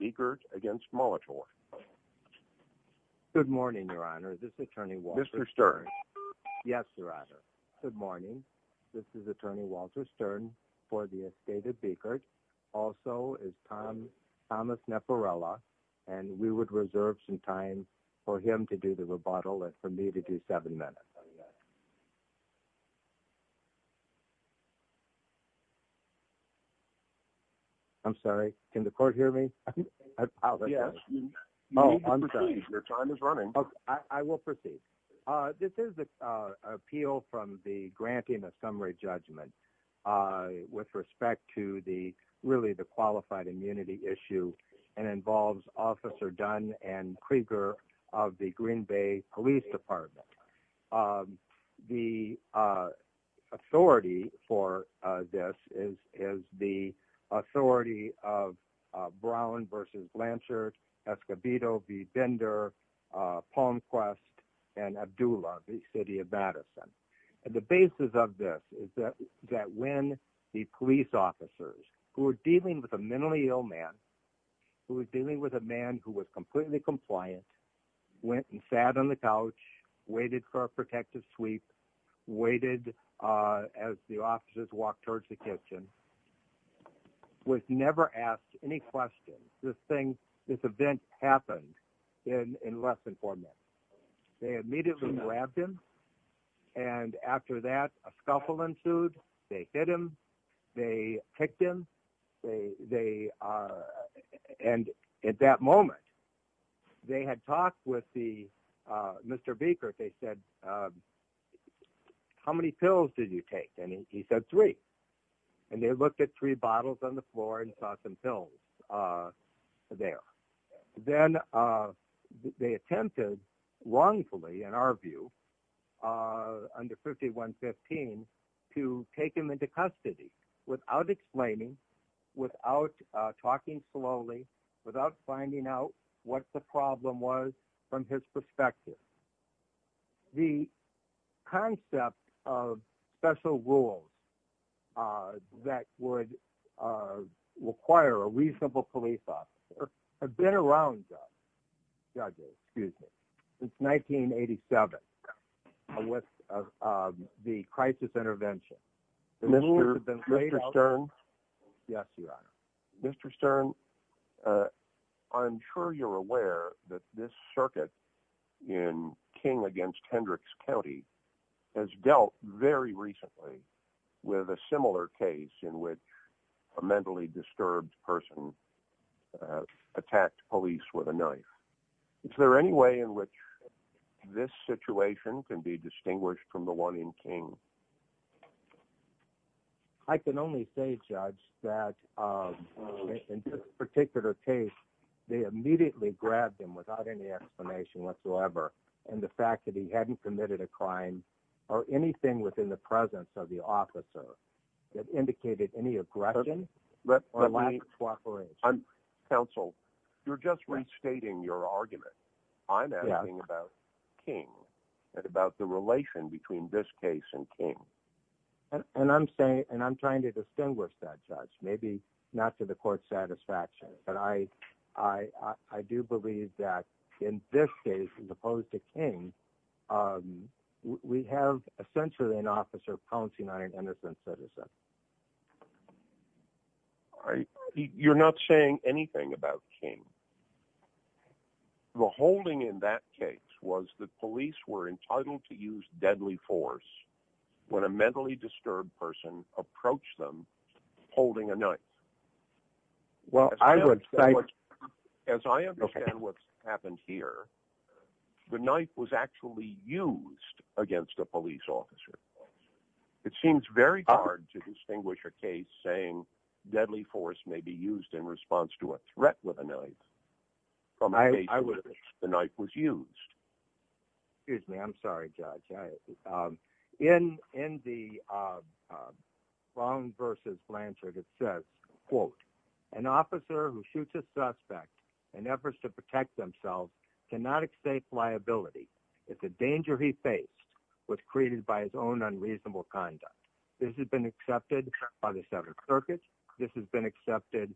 Biegert v. Molitor This is an appeal from the granting a summary judgment with respect to the qualified immunity issue and involves Officer Dunn and Krieger of the Green Bay Police Department. The authority for this is the authority of Brown v. Blanchard, Escobedo v. Bender, Palmquest, and Abdullah v. City of Madison. The basis of this is that when the police officers, who were dealing with a mentally ill man, who was dealing with a man who was completely compliant, went and sat on the couch, waited for a protective sweep, waited as the officers walked towards the kitchen, was never asked any questions. This event happened in less than four minutes. They immediately grabbed him, and after that, a scuffle ensued. They hit him, they kicked him, and at that moment, they had talked with Mr. Biegert. They said, how many pills did you take? And he said, three. And they looked at three bottles on the floor and saw some pills there. Then they attempted wrongfully, in our view, under 5115, to take him into custody without explaining, without talking slowly, without finding out what the problem was from his perspective. The concept of special rules that would require a reasonable police officer has been around, Judge, excuse me, since 1987 with the crisis intervention. Mr. Stern, I'm sure you're aware that this circuit in King v. Hendricks County has dealt very recently with a similar case in which a mentally disturbed person attacked police with a knife. Is there any way in which this situation can be distinguished from the one in King? I can only say, Judge, that in this particular case, they immediately grabbed him without any explanation whatsoever, and the fact that he hadn't committed a crime or anything within the presence of the officer that indicated any aggression or lack of cooperation. Counsel, you're just restating your argument. I'm asking about King and about the relation between this case and King. And I'm trying to distinguish that, Judge, maybe not to the court's satisfaction, but I do believe that in this case, as opposed to King, we have essentially an officer pouncing on an innocent citizen. You're not saying anything about King. The holding in that case was that police were entitled to use deadly force when a mentally disturbed person approached them holding a knife. As I understand what's happened here, the knife was actually used against a police officer. It seems very hard to distinguish a case saying deadly force may be used in response to a threat with a knife from a case in which the knife was used. Excuse me. I'm sorry, Judge. In the Brown v. Blanchard, it says, quote, an officer who shoots a suspect in efforts to protect themselves cannot accept liability if the danger he faced was created by his own unreasonable conduct. This has been accepted by the Seventh Circuit. This has been accepted,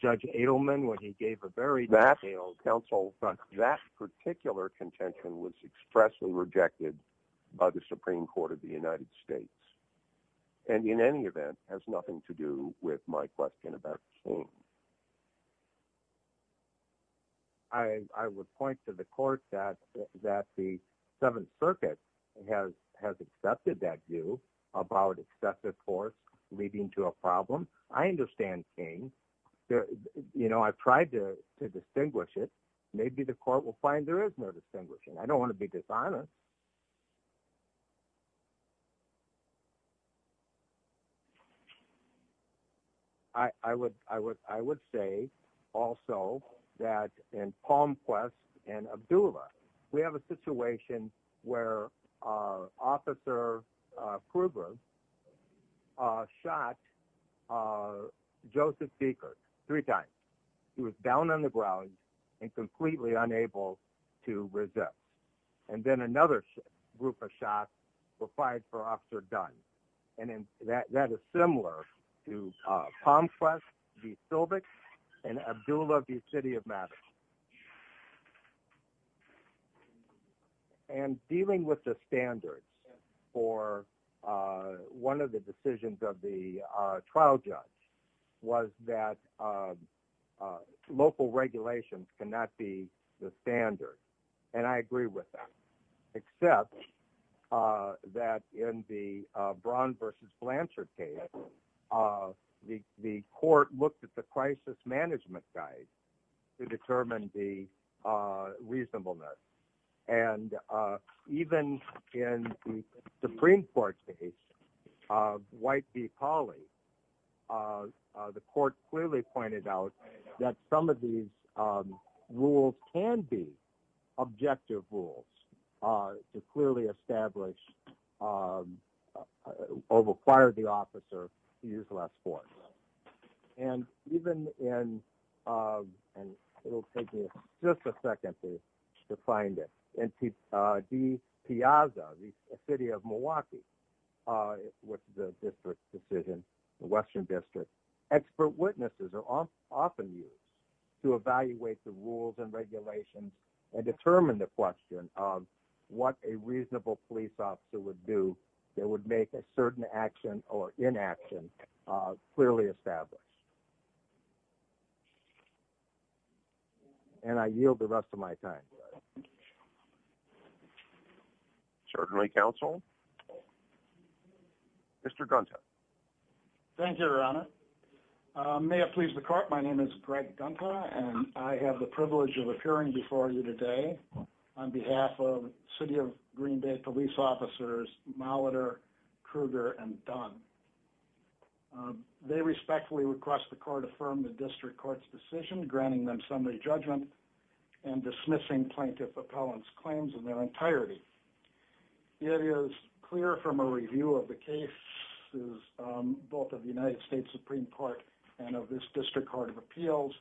Judge Adelman, when he gave a very detailed counsel. That particular contention was expressly rejected by the Supreme Court of the United States and, in any event, has nothing to do with my question about King. I would point to the court that the Seventh Circuit has accepted that view about excessive force leading to a problem. I understand King. I tried to distinguish it. Maybe the court will find there is no distinguishing. I don't want to be dishonest. I would say, also, that in Palm Quest and Abdullah, we have a situation where Officer Kruger shot Joseph Dekers three times. He was down on the ground and completely unable to resist. Then another group of shots were fired for Officer Dunn. That is similar to Palm Quest v. Silvix and Abdullah v. City of Madison. Dealing with the standards for one of the decisions of the trial judge was that local regulations cannot be the standard. I agree with that. The Supreme Court accepts that in the Braun v. Blanchard case, the court looked at the crisis management guide to determine the reasonableness. Even in the Supreme Court case of White v. Pauley, the court clearly pointed out that some of these rules can be objective rules to clearly establish or require the officer to use less force. It will take me just a second to find it. In De Piazza v. City of Milwaukee, the Western District, expert witnesses are often used to evaluate the rules and regulations and determine the question of what a reasonable police officer would do that would make a certain action or inaction clearly established. And I yield the rest of my time. Certainly, counsel. Mr. Gunter. Thank you, Your Honor. May it please the court. My name is Greg Gunter, and I have the privilege of appearing before you today on behalf of City of Green Bay police officers, Molitor, Kruger, and Dunn. They respectfully request the court affirm the district court's decision, granting them summary judgment and dismissing plaintiff appellant's claims in their entirety. It is clear from a review of the cases, both of the United States Supreme Court and of this district court of appeals,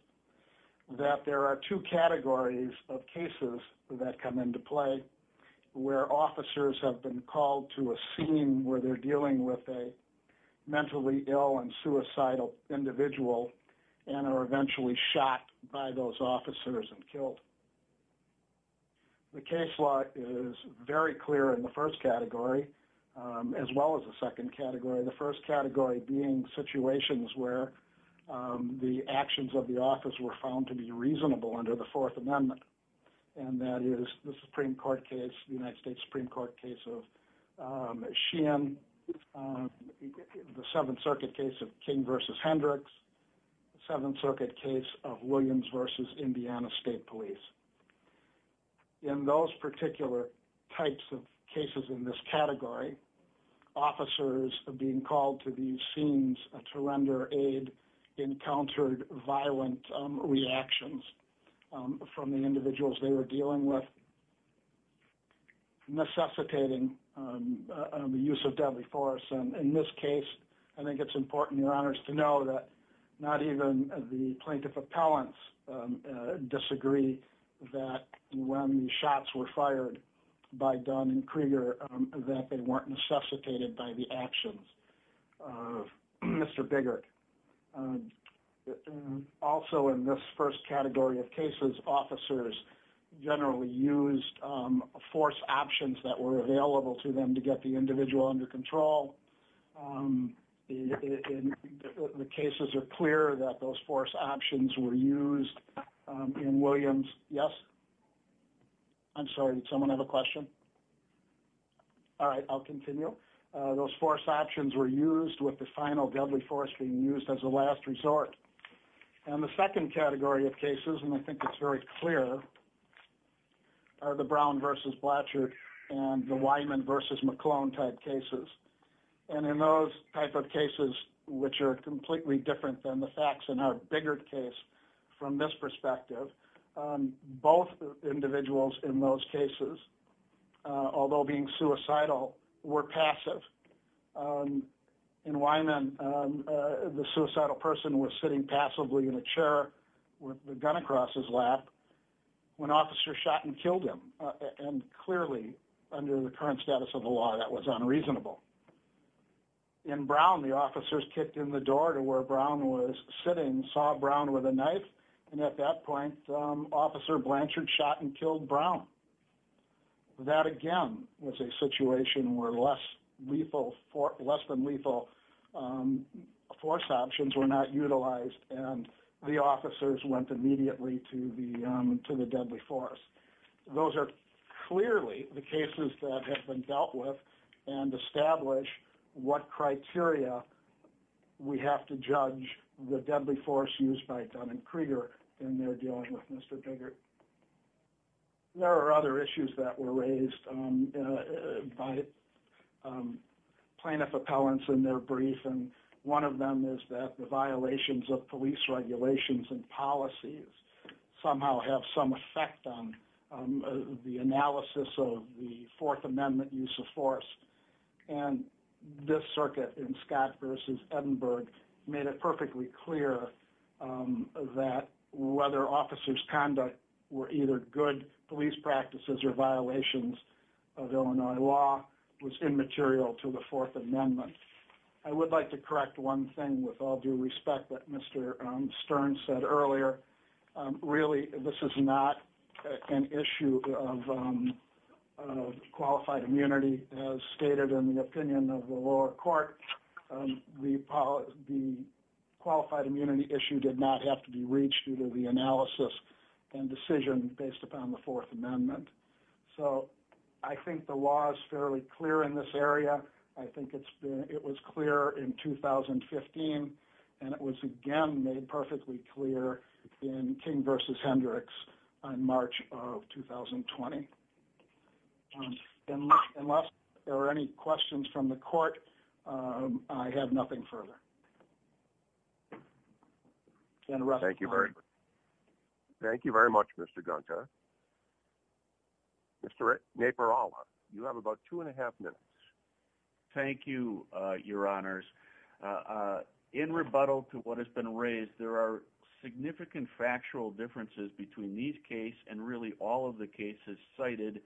that there are two categories of cases that come into play where officers have been called to a scene where they're dealing with a mentally ill and suicidal individual and are eventually shot by those officers and killed. The case law is very clear in the first category, as well as the second category, the first category being situations where the actions of the office were found to be reasonable under the Fourth Amendment. And that is the Supreme Court case, the United States Supreme Court case of Sheehan, the Seventh Circuit case of King v. Hendricks, Seventh Circuit case of Williams v. Indiana State Police. In those particular types of cases in this category, officers being called to these scenes to render aid encountered violent reactions from the individuals they were dealing with, necessitating the use of deadly force. In this case, I think it's important, Your Honors, to know that not even the plaintiff appellants disagree that when the shots were fired by Dunn and Krieger, that they weren't necessitated by the actions of Mr. Biggert. Also, in this first category of cases, officers generally used force options that were available to them to get the individual under control. The cases are clear that those force options were used in Williams. Yes? I'm sorry, did someone have a question? All right, I'll continue. Those force options were used with the final deadly force being used as a last resort. And the second category of cases, and I think it's very clear, are the Brown v. Blatcher and the Wyman v. McClone type cases. And in those type of cases, which are completely different than the facts in our Biggert case from this perspective, both individuals in those cases, although being suicidal, were passive. In Wyman, the suicidal person was sitting passively in a chair with a gun across his lap when officers shot and killed him. And clearly, under the current status of the law, that was unreasonable. In Brown, the officers kicked in the door to where Brown was sitting, saw Brown with a knife, and at that point, Officer Blanchard shot and killed Brown. That, again, was a situation where less than lethal force options were not utilized, and the officers went immediately to the deadly force. Those are clearly the cases that have been dealt with and establish what criteria we have to judge the deadly force used by Dunn and Krieger in their dealing with Mr. Biggert. There are other issues that were raised by plaintiff appellants in their brief, and one of them is that the violations of police regulations and policies somehow have some effect on the analysis of the Fourth Amendment use of force. And this circuit in Scott v. Edinburgh made it perfectly clear that whether officers' conduct were either good police practices or violations of Illinois law was immaterial to the Fourth Amendment. I would like to correct one thing with all due respect that Mr. Stern said earlier. Really, this is not an issue of qualified immunity. As stated in the opinion of the lower court, the qualified immunity issue did not have to be reached due to the analysis and decision based upon the Fourth Amendment. So I think the law is fairly clear in this area. I think it was clear in 2015, and it was again made perfectly clear in King v. Hendricks in March of 2020. Unless there are any questions from the court, I have nothing further. Thank you very much, Mr. Gunther. Mr. Naparala, you have about two and a half minutes. Thank you, Your Honors. In rebuttal to what has been raised, there are significant factual differences between these cases and really all of the cases cited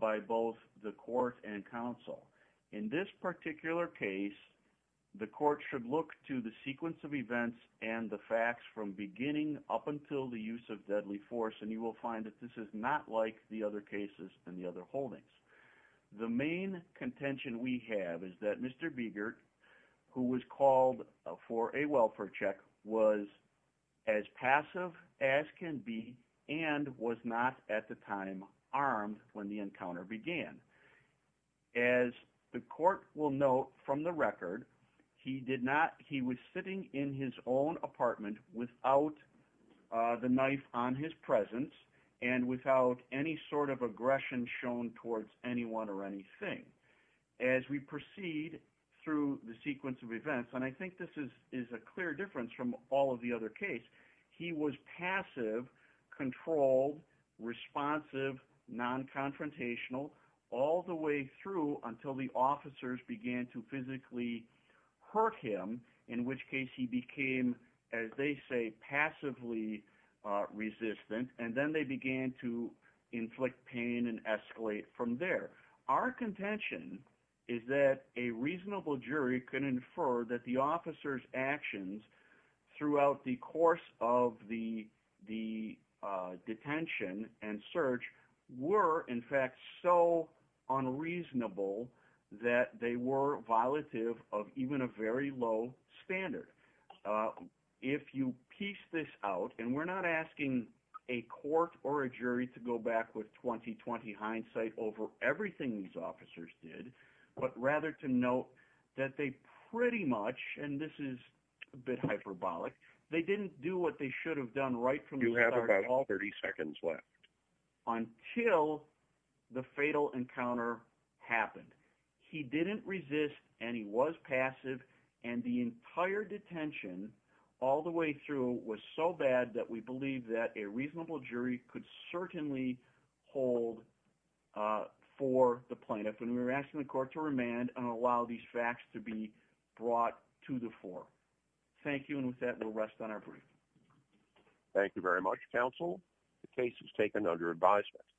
by both the court and counsel. In this particular case, the court should look to the sequence of events and the facts from beginning up until the use of deadly force, and you will find that this is not like the other cases and the other holdings. The main contention we have is that Mr. Biegert, who was called for a welfare check, was as passive as can be and was not at the time armed when the encounter began. As the court will note from the record, he was sitting in his own apartment without the knife on his presence and without any sort of aggression shown towards anyone or anything. As we proceed through the sequence of events, and I think this is a clear difference from all of the other cases, he was passive, controlled, responsive, non-confrontational, all the way through until the officers began to physically hurt him, in which case he became, as they say, passively resistant, and then they began to inflict pain and escalate from there. Our contention is that a reasonable jury can infer that the officers' actions throughout the course of the detention and search were, in fact, so unreasonable that they were violative of even a very low standard. If you piece this out – and we're not asking a court or a jury to go back with 20-20 hindsight over everything these officers did, but rather to note that they pretty much – and this is a bit hyperbolic – they didn't do what they should have done right from the start until the fatal encounter happened. He didn't resist, and he was passive, and the entire detention all the way through was so bad that we believe that a reasonable jury could certainly hold for the plaintiff. And we're asking the court to remand and allow these facts to be brought to the fore. Thank you, and with that, we'll rest on our brief. Thank you very much, counsel. The case is taken under advisory.